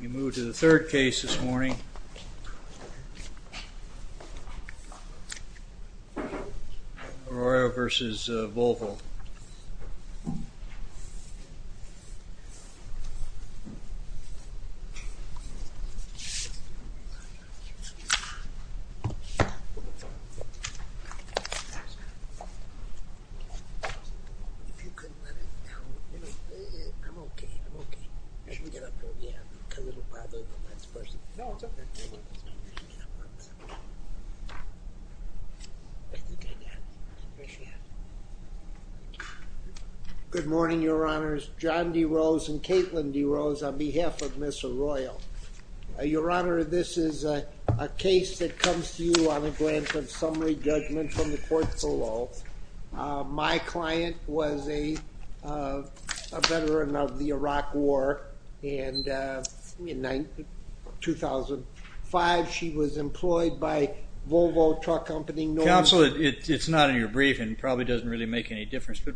We move to the third case this morning, Arroyo v. Volvo. Good morning, Your Honors. John D. Rose and Caitlin D. Rose on behalf of Ms. Arroyo. Your Honor, this is a case that comes to you on a glance of summary judgment from the courts of law. My client was a veteran of the Iraq War and in 2005 she was employed by Volvo Truck Company North America. Counsel, it's not in your brief and probably doesn't really make any difference, but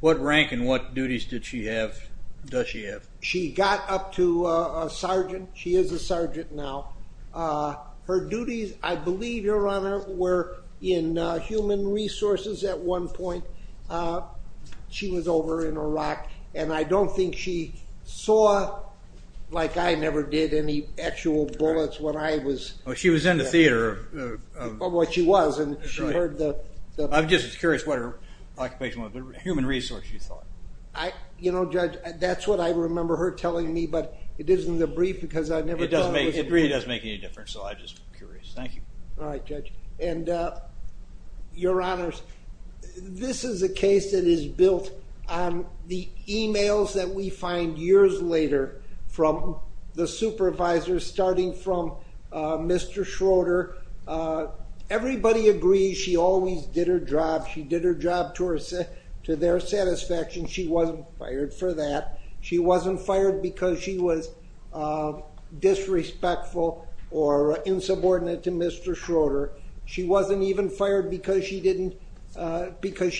what rank and what duties does she have? She got up to a sergeant. She is a sergeant now. Her duties, I believe, Your Honor, were in human resources at one point. She was over in Iraq and I don't think she saw, like I never did, any actual bullets when I was... She was in the theater. Well, she was and she heard the... I'm just curious what her occupation was. Human resources, you thought. You know, Judge, that's what I remember her telling me, but it is in the brief because I never... It really doesn't make any difference, so I'm just curious. Thank you. All right, Judge. And Your Honors, this is a case that is built on the emails that we find years later from the supervisors, starting from Mr. Schroeder. Everybody agrees she always did her job. She did her job to their satisfaction. She wasn't fired for that. She wasn't fired because she was disrespectful or insubordinate to Mr. Schroeder. She wasn't even fired because she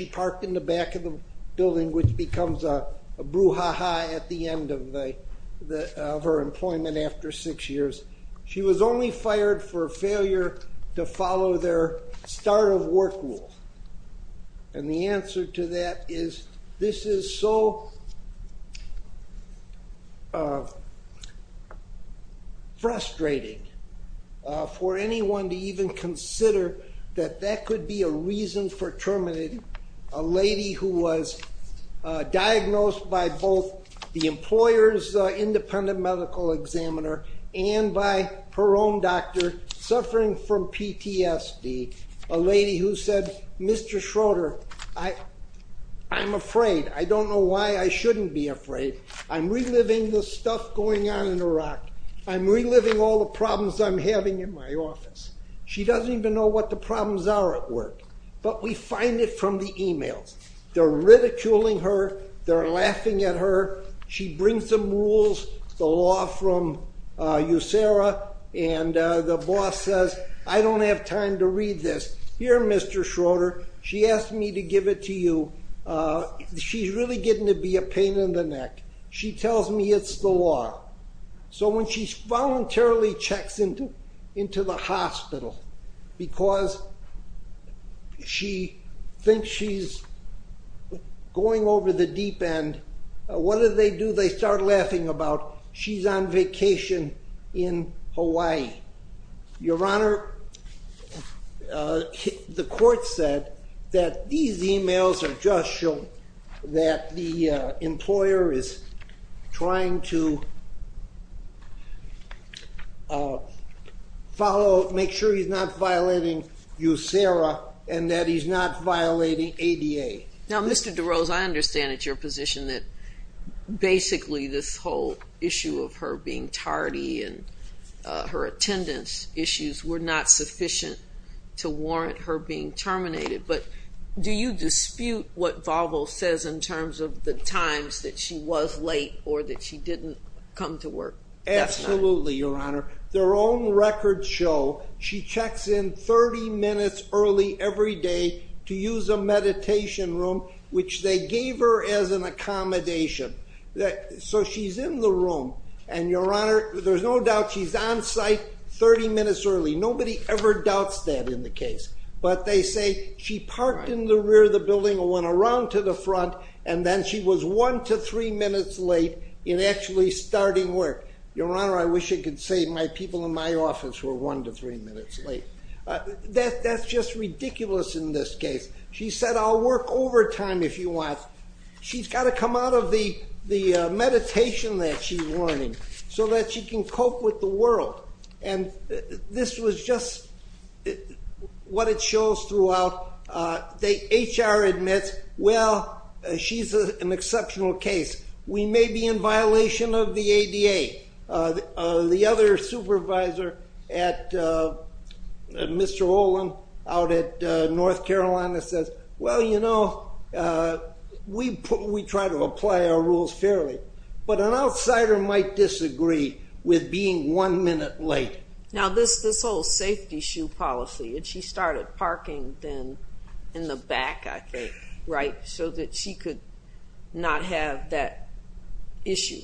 parked in the back of the building, which becomes a brouhaha at the end of her employment after six years. She was only fired for failure to follow their start of work rule. And the answer to that is this is so frustrating for anyone to even consider that that could be a reason for terminating a lady who was diagnosed by both the employer's independent medical examiner and by her own doctor suffering from PTSD, a lady who said, Mr. Schroeder, I'm afraid. I don't know why I shouldn't be afraid. I'm reliving the stuff going on in Iraq. I'm reliving all the problems I'm having in my office. She doesn't even know what the problems are at work, but we find it from the emails. They're ridiculing her. They're laughing at her. She brings some rules, the law from USERA, and the boss says, I don't have time to read this. Here, Mr. Schroeder, she asked me to give it to you. She's really getting to be a pain in the neck. She tells me it's the law. So when she voluntarily checks into the hospital because she thinks she's going over the deep end, what do they do? They start laughing about she's on vacation in Hawaii. Your Honor, the court said that these emails are just showing that the employer is trying to follow, make sure he's not violating USERA and that he's not violating ADA. Now, Mr. DeRose, I understand at your position that basically this whole issue of her being tardy and her attendance issues were not sufficient to warrant her being terminated. But do you dispute what Volvo says in terms of the times that she was late or that she didn't come to work? Absolutely, Your Honor. Their own records show she checks in 30 minutes early every day to use a meditation room, which they gave her as an accommodation. So she's in the room and, Your Honor, there's no doubt she's on site 30 minutes early. Nobody ever doubts that in the case. But they say she parked in the rear of the building and went around to the front and then she was one to three minutes late in actually starting work. Your Honor, I wish I could say my people in my office were one to three minutes late. That's just ridiculous in this case. She said, I'll work overtime if you want. She's got to come out of the meditation that she's learning so that she can cope with the world. And this was just what it shows throughout. HR admits, well, she's an exceptional case. We may be in violation of the ADA. The other supervisor, Mr. Olin, out at North Carolina says, well, you know, we try to apply our rules fairly. But an outsider might disagree with being one minute late. Now this whole safety shoe policy and she started parking then in the back, I think, right, so that she could not have that issue.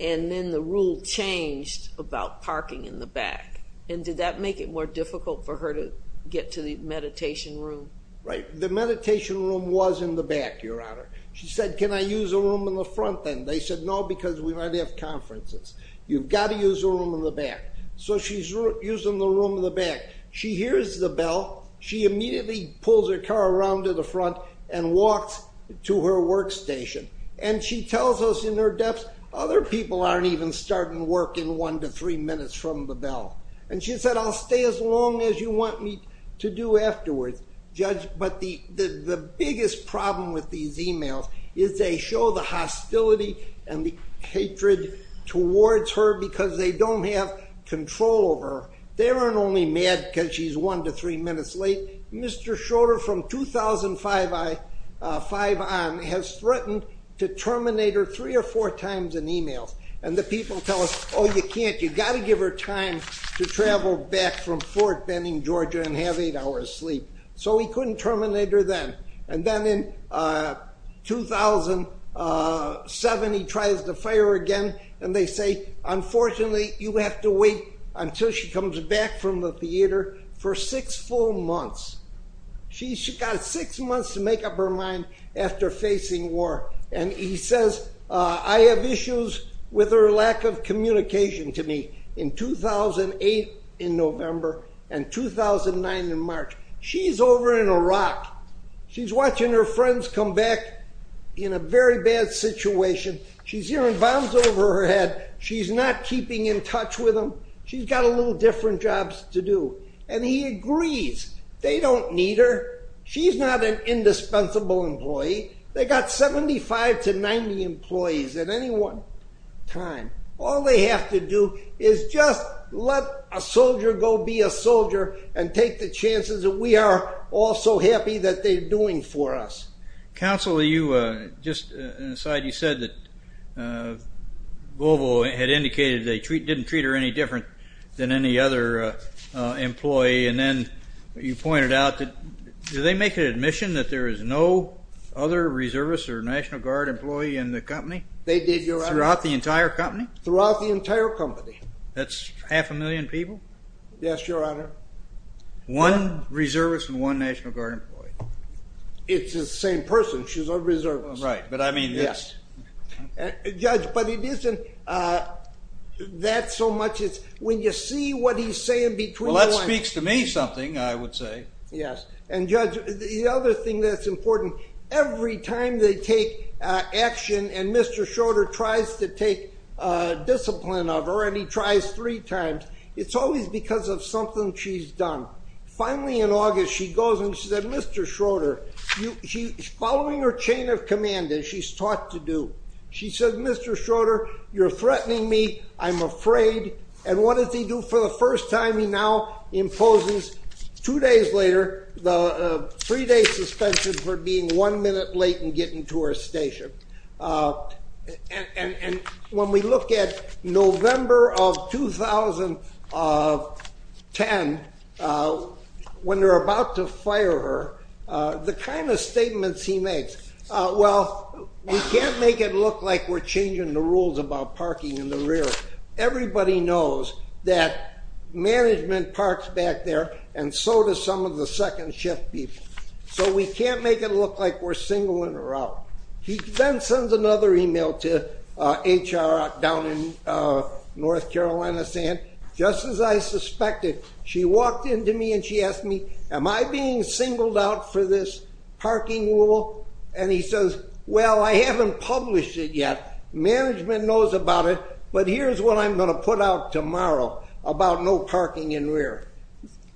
And then the rule changed about parking in the back. And did that make it more difficult for her to get to the meditation room? Right. The meditation room was in the back, Your Honor. She said, can I use a room in the front then? They said, no, because we might have conferences. You've got to use a room in the back. So she's using the room in the back. She hears the bell. She immediately pulls her car around to the front and walks to her workstation. And she tells us in her depth, other people aren't even starting work in one to three minutes from the bell. And she said, I'll stay as long as you want me to do afterwards, Judge. But the biggest problem with these emails is they show the hostility and the hatred towards her because they don't have control over her. They weren't only mad because she's one to three minutes late. Mr. Schroeder from 2005 on has threatened to terminate her three or four times in emails. And the people tell us, oh, you can't. You've got to give her time to travel back from Fort Benning, Georgia and have eight hours sleep. So he couldn't terminate her then. And then in 2007, he tries to fire her again. And they say, unfortunately, you have to wait until she comes back from the theater for six full months. She's got six months to make up her mind after facing war. And he says, I have issues with her lack of communication to me in 2008 in November and 2009 in March. She's over in Iraq. She's watching her friends come back in a very bad situation. She's hearing bombs over her head. She's not keeping in touch with them. She's got a little different jobs to do. And he agrees. They don't need her. She's not an indispensable employee. They've got 75 to 90 employees at any one time. All they have to do is just let a soldier go be a soldier and take the chances that we are all so happy that they're doing for us. Counsel, just an aside, you said that Volvo had indicated they didn't treat her any different than any other employee. And then you pointed out that, did they make an admission that there is no other Reservist or National Guard employee in the company? They did, Your Honor. Throughout the entire company? Throughout the entire company. That's half a million people? Yes, Your Honor. One Reservist and one National Guard employee? It's the same person. She's a Reservist. Right, but I mean... Yes. Judge, but it isn't that so much as when you see what he's saying between the lines... Well, that speaks to me something, I would say. Yes. And Judge, the other thing that's important, every time they take action and Mr. Schroeder tries to take discipline of her, and he tries three times, it's always because of something she's done. Finally, in August, she goes and she said, Mr. Schroeder, following her chain of command, as she's taught to do, she said, Mr. Schroeder, you're threatening me. I'm afraid. And what does he do for the first time? He now imposes, two days later, the three-day suspension for being one minute late in getting to her station. And when we look at November of 2010, when they're about to fire her, the kind of statements he makes, well, we can't make it look like we're changing the rules about parking in the rear. Everybody knows that management parks back there, and so do some of the second shift people. So we can't make it look like we're singling her out. He then sends another email to HR down in North Carolina saying, just as I suspected, she walked into me and she asked me, am I being singled out for this parking rule? And he says, well, I haven't published it yet. Management knows about it, but here's what I'm going to put out tomorrow about no parking in rear.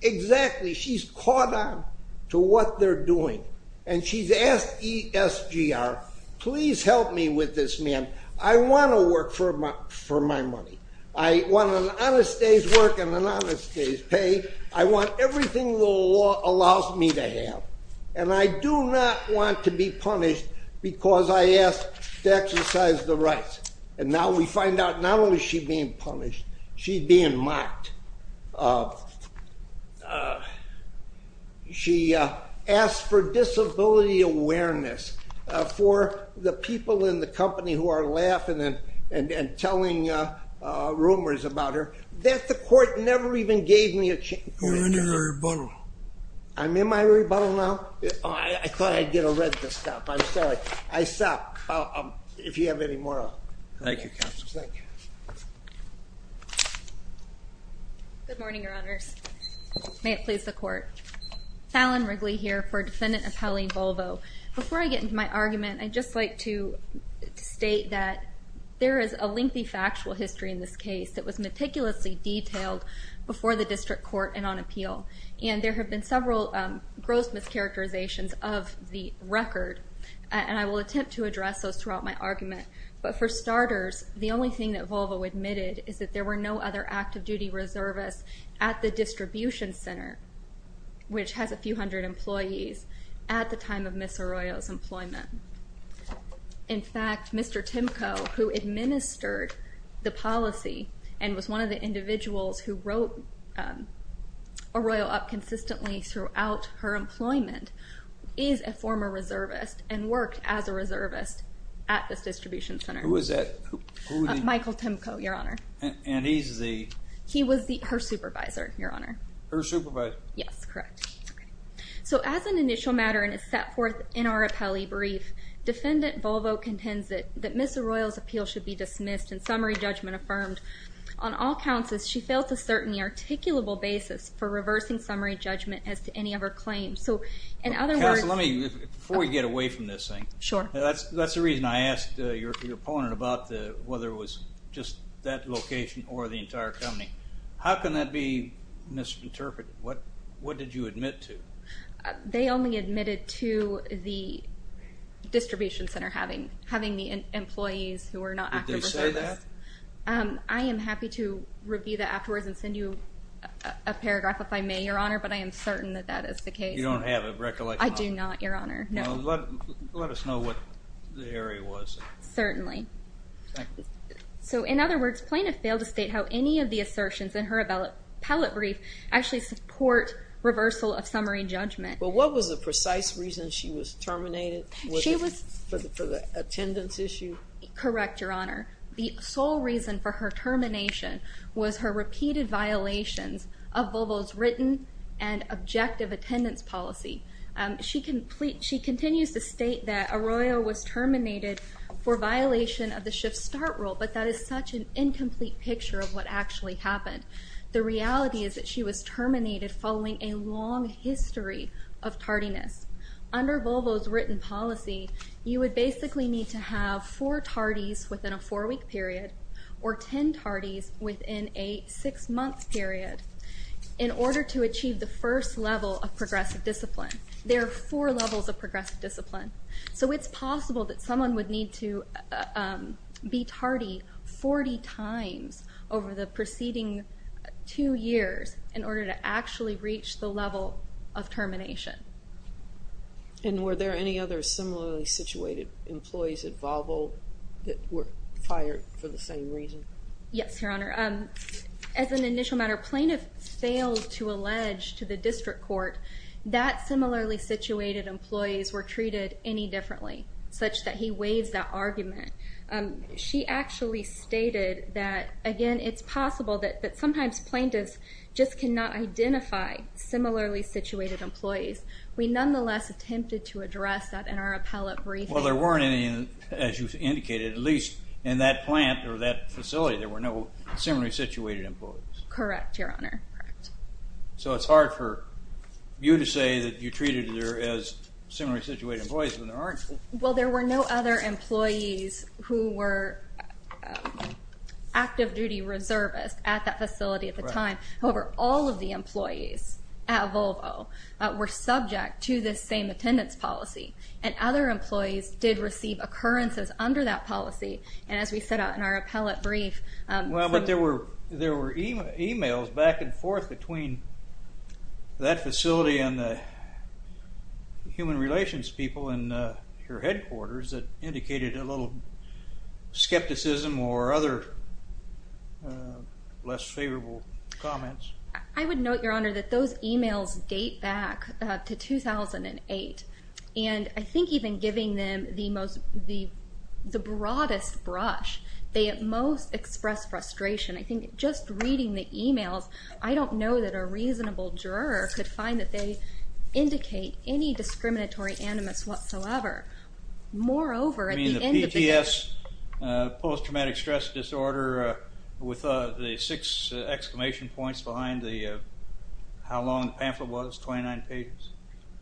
Exactly, she's caught on to what they're doing, and she's asked ESGR, please help me with this, ma'am. I want to work for my money. I want an honest day's work and an honest day's pay. I want everything the law allows me to have. And I do not want to be punished because I asked to exercise the rights. And now we find out not only is she being punished, she's being mocked. She asked for disability awareness for the people in the company who are laughing and telling rumors about her. That the court never even gave me a chance. You're in your rebuttal. I'm in my rebuttal now? I thought I'd get a red to stop. I'm sorry. I stopped. If you have any more. Thank you, counsel. Good morning, Your Honors. May it please the court. Fallon Wrigley here for Defendant Appellee Volvo. Before I get into my argument, I'd just like to state that there is a lengthy factual history in this case that was meticulously detailed before the district court and on appeal. And there have been several gross mischaracterizations of the record, and I will attempt to address those throughout my argument. But for starters, the only thing that Volvo admitted is that there were no other active duty reservists at the distribution center, which has a few hundred employees, at the time of Ms. Arroyo's employment. In fact, Mr. Timko, who administered the policy and was one of the individuals who wrote Arroyo up consistently throughout her employment, is a former reservist and worked as a reservist at this distribution center. Who is that? Michael Timko, Your Honor. And he's the? He was her supervisor, Your Honor. Her supervisor? Yes, correct. So as an initial matter and is set forth in our appellee brief, Defendant Volvo contends that Ms. Arroyo's appeal should be dismissed and summary judgment affirmed. On all counts, as she failed to certain the articulable basis for reversing summary judgment as to any of her claims. So, in other words... Before we get away from this thing, that's the reason I asked your opponent about whether it was just that location or the entire company. How can that be misinterpreted? What did you admit to? They only admitted to the distribution center having the employees who were not active reservists. Did they say that? I am happy to review that afterwards and send you a paragraph if I may, Your Honor, but I am certain that that is the case. You don't have a recollection of it? I do not, Your Honor. Let us know what the area was. Certainly. So, in other words, plaintiff failed to state how any of the assertions in her appellate brief actually support reversal of summary judgment. But what was the precise reason she was terminated? Was it for the attendance issue? Correct, Your Honor. The sole reason for her termination was her repeated violations of Volvo's written and objective attendance policy. She continues to state that Arroyo was terminated for violation of the shift start rule, but that is such an incomplete picture of what actually happened. The reality is that she was terminated following a long history of tardiness. Under Volvo's written policy, you would basically need to have four tardies within a four-week period or ten tardies within a six-month period in order to achieve the first level of progressive discipline. There are four levels of progressive discipline, so it's possible that someone would need to be tardy 40 times over the preceding two years in order to actually reach the level of termination. And were there any other similarly situated employees at Volvo that were fired for the same reason? Yes, Your Honor. As an initial matter, plaintiff failed to allege to the district court that similarly situated employees were treated any differently, such that he waives that argument. She actually stated that, again, it's possible that sometimes plaintiffs just cannot identify similarly situated employees. We nonetheless attempted to address that in our appellate briefing. Well, there weren't any, as you indicated, at least in that plant or that facility, there were no similarly situated employees. Correct, Your Honor. So it's hard for you to say that you treated there as similarly situated employees when there aren't. Well, there were no other employees who were active duty reservists at that facility at the time. However, all of the employees at Volvo were subject to this same attendance policy. And other employees did receive occurrences under that policy, and as we set out in our appellate brief... There were emails back and forth between that facility and the human relations people in your headquarters that indicated a little skepticism or other less favorable comments. I would note, Your Honor, that those emails date back to 2008, and I think even giving them the broadest brush, they at most expressed frustration. I think just reading the emails, I don't know that a reasonable juror could find that they indicate any discriminatory animus whatsoever. You mean the PTS, Post Traumatic Stress Disorder, with the six exclamation points behind how long the pamphlet was, 29 pages?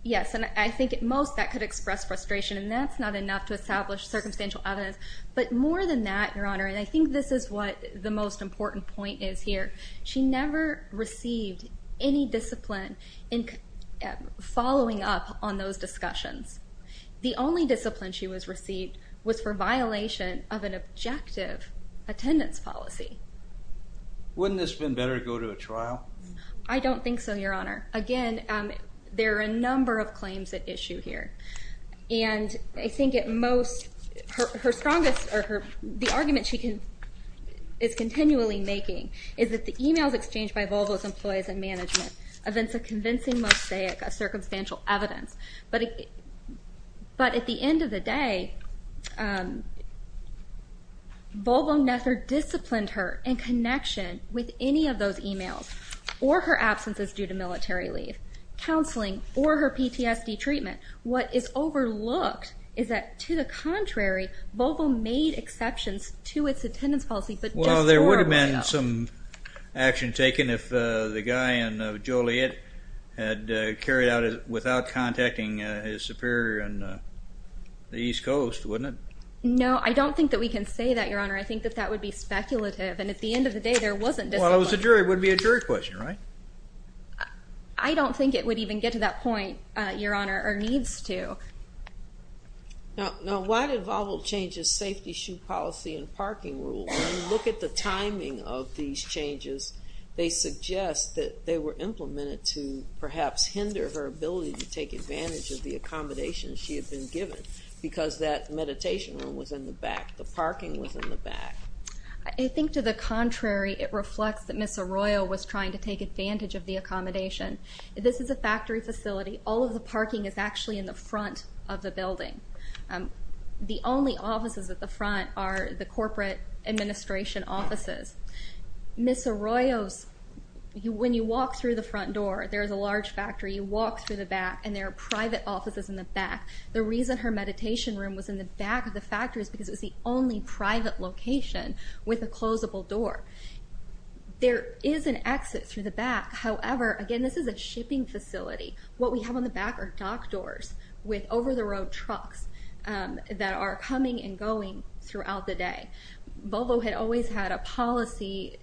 Yes, and I think at most that could express frustration, and that's not enough to establish circumstantial evidence. But more than that, Your Honor, and I think this is what the most important point is here, she never received any discipline in following up on those discussions. The only discipline she was received was for violation of an objective attendance policy. Wouldn't this have been better to go to a trial? I don't think so, Your Honor. Again, there are a number of claims at issue here. And I think at most, the argument she is continually making is that the emails exchanged by Volvo's employees and management evince a convincing mosaic of circumstantial evidence. But at the end of the day, Volvo never disciplined her in connection with any of those emails, or her absences due to military leave, counseling, or her PTSD treatment. What is overlooked is that, to the contrary, Volvo made exceptions to its attendance policy, but just for email. There would have been some action taken if the guy in Joliet had carried out it without contacting his superior on the East Coast, wouldn't it? No, I don't think that we can say that, Your Honor. I think that that would be speculative, and at the end of the day, there wasn't discipline. Well, if it was a jury, it would be a jury question, right? I don't think it would even get to that point, Your Honor, or needs to. Now, why did Volvo change its safety shoe policy and parking rule? When you look at the timing of these changes, they suggest that they were implemented to perhaps hinder her ability to take advantage of the accommodations she had been given. Because that meditation room was in the back, the parking was in the back. I think, to the contrary, it reflects that Ms. Arroyo was trying to take advantage of the accommodation. This is a factory facility. All of the parking is actually in the front of the building. The only offices at the front are the corporate administration offices. Ms. Arroyo's, when you walk through the front door, there is a large factory. You walk through the back, and there are private offices in the back. The reason her meditation room was in the back of the factory is because it was the only private location with a closeable door. There is an exit through the back. However, again, this is a shipping facility. What we have on the back are dock doors with over-the-road trucks that are coming and going throughout the day. Volvo had always had a policy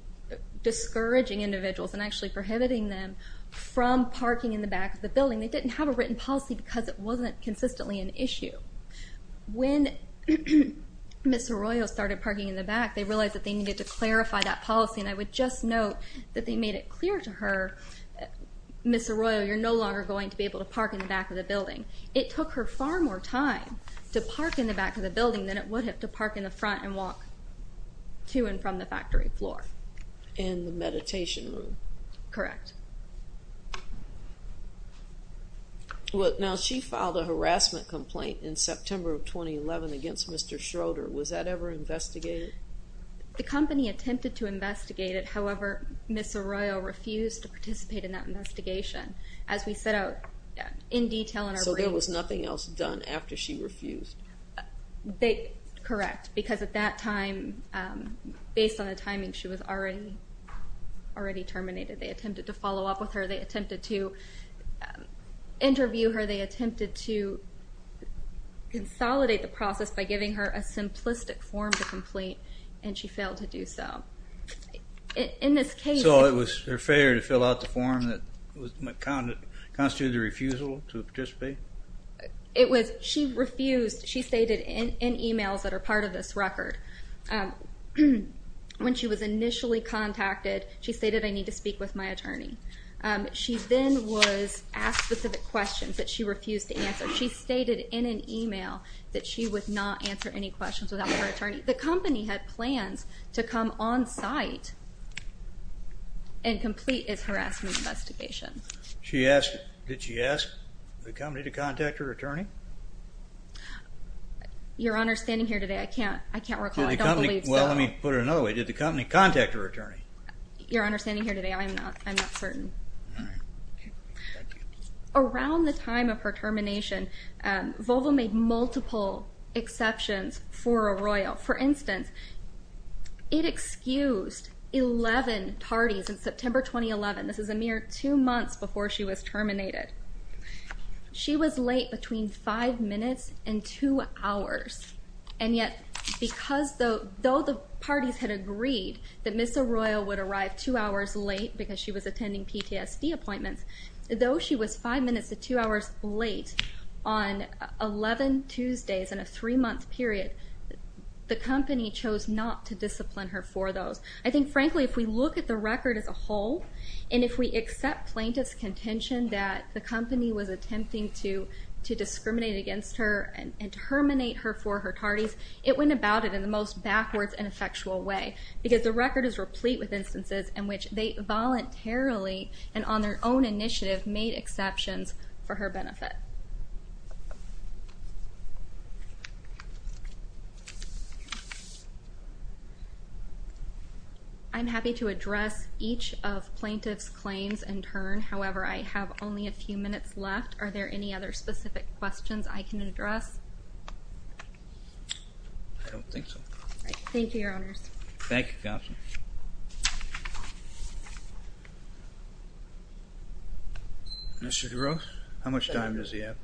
discouraging individuals and actually prohibiting them from parking in the back of the building. They didn't have a written policy because it wasn't consistently an issue. When Ms. Arroyo started parking in the back, they realized that they needed to clarify that policy, and I would just note that they made it clear to her, Ms. Arroyo, you're no longer going to be able to park in the back of the building. It took her far more time to park in the back of the building than it would have to park in the front and walk to and from the factory floor. In the meditation room. Correct. Now, she filed a harassment complaint in September of 2011 against Mr. Schroeder. Was that ever investigated? The company attempted to investigate it. However, Ms. Arroyo refused to participate in that investigation. As we set out in detail in our briefs. So there was nothing else done after she refused? Correct, because at that time, based on the timing, she was already terminated. They attempted to follow up with her. They attempted to interview her. They attempted to consolidate the process by giving her a simplistic form to complete, and she failed to do so. In this case. So it was her failure to fill out the form that constituted a refusal to participate? It was, she refused, she stated in emails that are part of this record. When she was initially contacted, she stated I need to speak with my attorney. She then was asked specific questions that she refused to answer. She stated in an email that she would not answer any questions without her attorney. The company had plans to come on site and complete its harassment investigation. She asked, did she ask the company to contact her attorney? Your Honor, standing here today, I can't recall. I don't believe so. Well, let me put it another way. Did the company contact her attorney? Your Honor, standing here today, I'm not certain. All right. Thank you. Around the time of her termination, Volvo made multiple exceptions for Arroyo. For instance, it excused 11 parties in September 2011. This is a mere two months before she was terminated. She was late between five minutes and two hours. And yet, because though the parties had agreed that Ms. Arroyo would arrive two hours late because she was attending PTSD appointments, though she was five minutes to two hours late on 11 Tuesdays in a three-month period, the company chose not to discipline her for those. I think, frankly, if we look at the record as a whole, and if we accept plaintiff's contention that the company was attempting to discriminate against her and terminate her for her parties, it went about it in the most backwards and effectual way because the record is replete with instances in which they voluntarily and on their own initiative made exceptions for her benefit. I'm happy to address each of plaintiff's claims in turn. However, I have only a few minutes left. Are there any other specific questions I can address? I don't think so. All right. Thank you, Your Honors. Thank you, Counsel. Mr. DeRose, how much time does he have?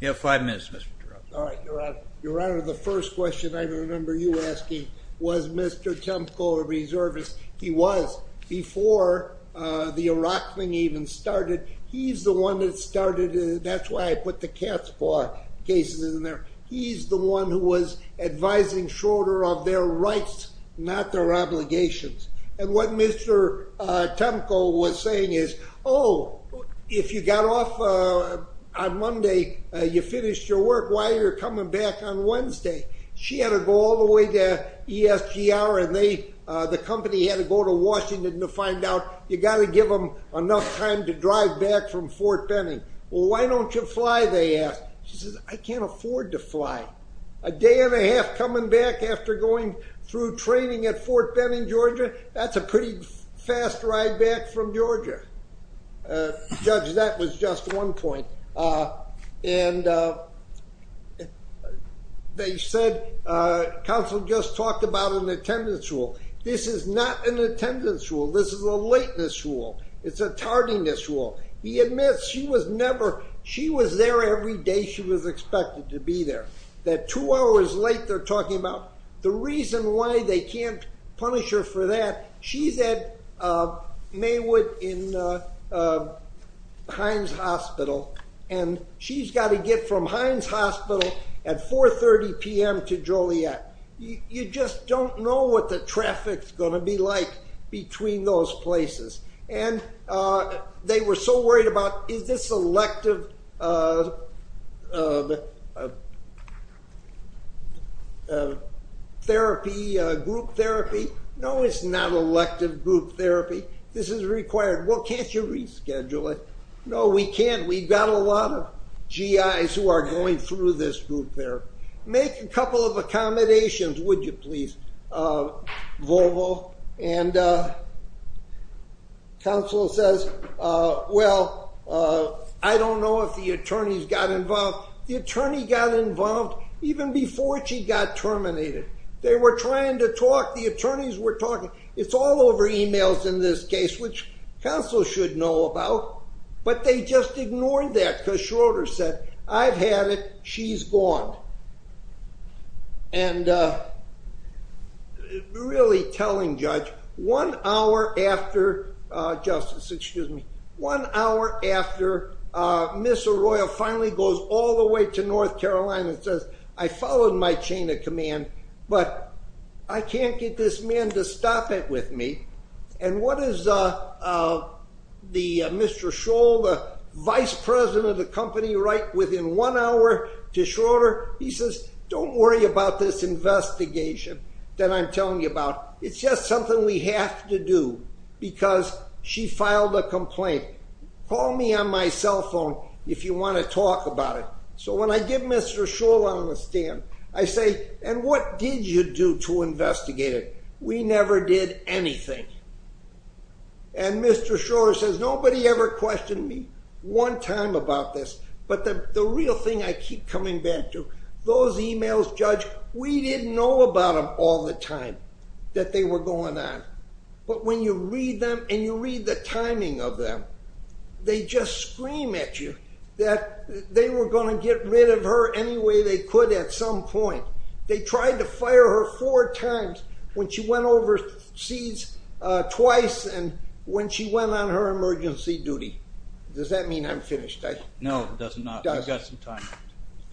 You have five minutes, Mr. DeRose. All right, Your Honor. Your Honor, the first question I remember you asking was Mr. Temko, a reservist. He was. Before the Iraq thing even started, he's the one that started it. That's why I put the Casbah cases in there. He's the one who was advising shorter of their rights, not their obligations. And what Mr. Temko was saying is, oh, if you got off on Monday, you finished your work, why are you coming back on Wednesday? She had to go all the way to ESGR, and the company had to go to Washington to find out you got to give them enough time to drive back from Fort Benning. Well, why don't you fly, they asked. She says, I can't afford to fly. A day and a half coming back after going through training at Fort Benning, Georgia, that's a pretty fast ride back from Georgia. Judge, that was just one point. And they said Counsel just talked about an attendance rule. This is not an attendance rule. This is a lateness rule. It's a tardiness rule. He admits she was there every day she was expected to be there. That two hours late, they're talking about the reason why they can't punish her for that. She's at Maywood in Hines Hospital, and she's got to get from Hines Hospital at 4.30 p.m. to Joliet. You just don't know what the traffic's going to be like between those places. They were so worried about, is this elective group therapy? No, it's not elective group therapy. This is required. Well, can't you reschedule it? No, we can't. We've got a lot of GIs who are going through this group therapy. Make a couple of accommodations, would you please, Volvo? And Counsel says, well, I don't know if the attorneys got involved. The attorney got involved even before she got terminated. They were trying to talk. The attorneys were talking. It's all over emails in this case, which Counsel should know about. But they just ignored that because Schroeder said, I've had it. She's gone. And really telling Judge, one hour after, Justice, excuse me, one hour after Ms. Arroyo finally goes all the way to North Carolina and says, I followed my chain of command, but I can't get this man to stop it with me. And what does Mr. Schroeder, Vice President of the company, write within one hour to Schroeder? He says, don't worry about this investigation that I'm telling you about. It's just something we have to do because she filed a complaint. Call me on my cell phone if you want to talk about it. So when I get Mr. Schroeder on the stand, I say, and what did you do to investigate it? We never did anything. And Mr. Schroeder says, nobody ever questioned me one time about this, but the real thing I keep coming back to, those emails, Judge, we didn't know about them all the time that they were going on. But when you read them and you read the timing of them, they just scream at you that they were going to get rid of her any way they could at some point. They tried to fire her four times when she went overseas twice and when she went on her emergency duty. Does that mean I'm finished? No, it does not. We've got some time.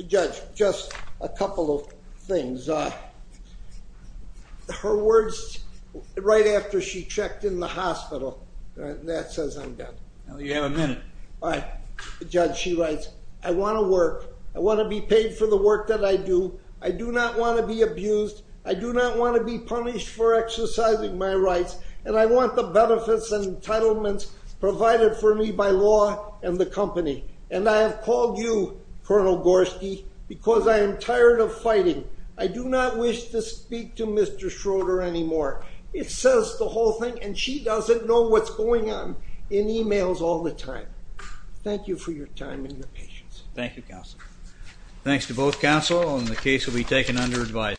Judge, just a couple of things. Her words right after she checked in the hospital, that says I'm done. You have a minute. All right. Judge, she writes, I want to work. I want to be paid for the work that I do. I do not want to be abused. I do not want to be punished for exercising my rights. And I want the benefits and entitlements provided for me by law and the company. And I have called you, Colonel Gorski, because I am tired of fighting. I do not wish to speak to Mr. Schroeder anymore. It says the whole thing, and she doesn't know what's going on in emails all the time. Thank you for your time and your patience. Thank you, counsel. Thanks to both counsel, and the case will be taken under advice.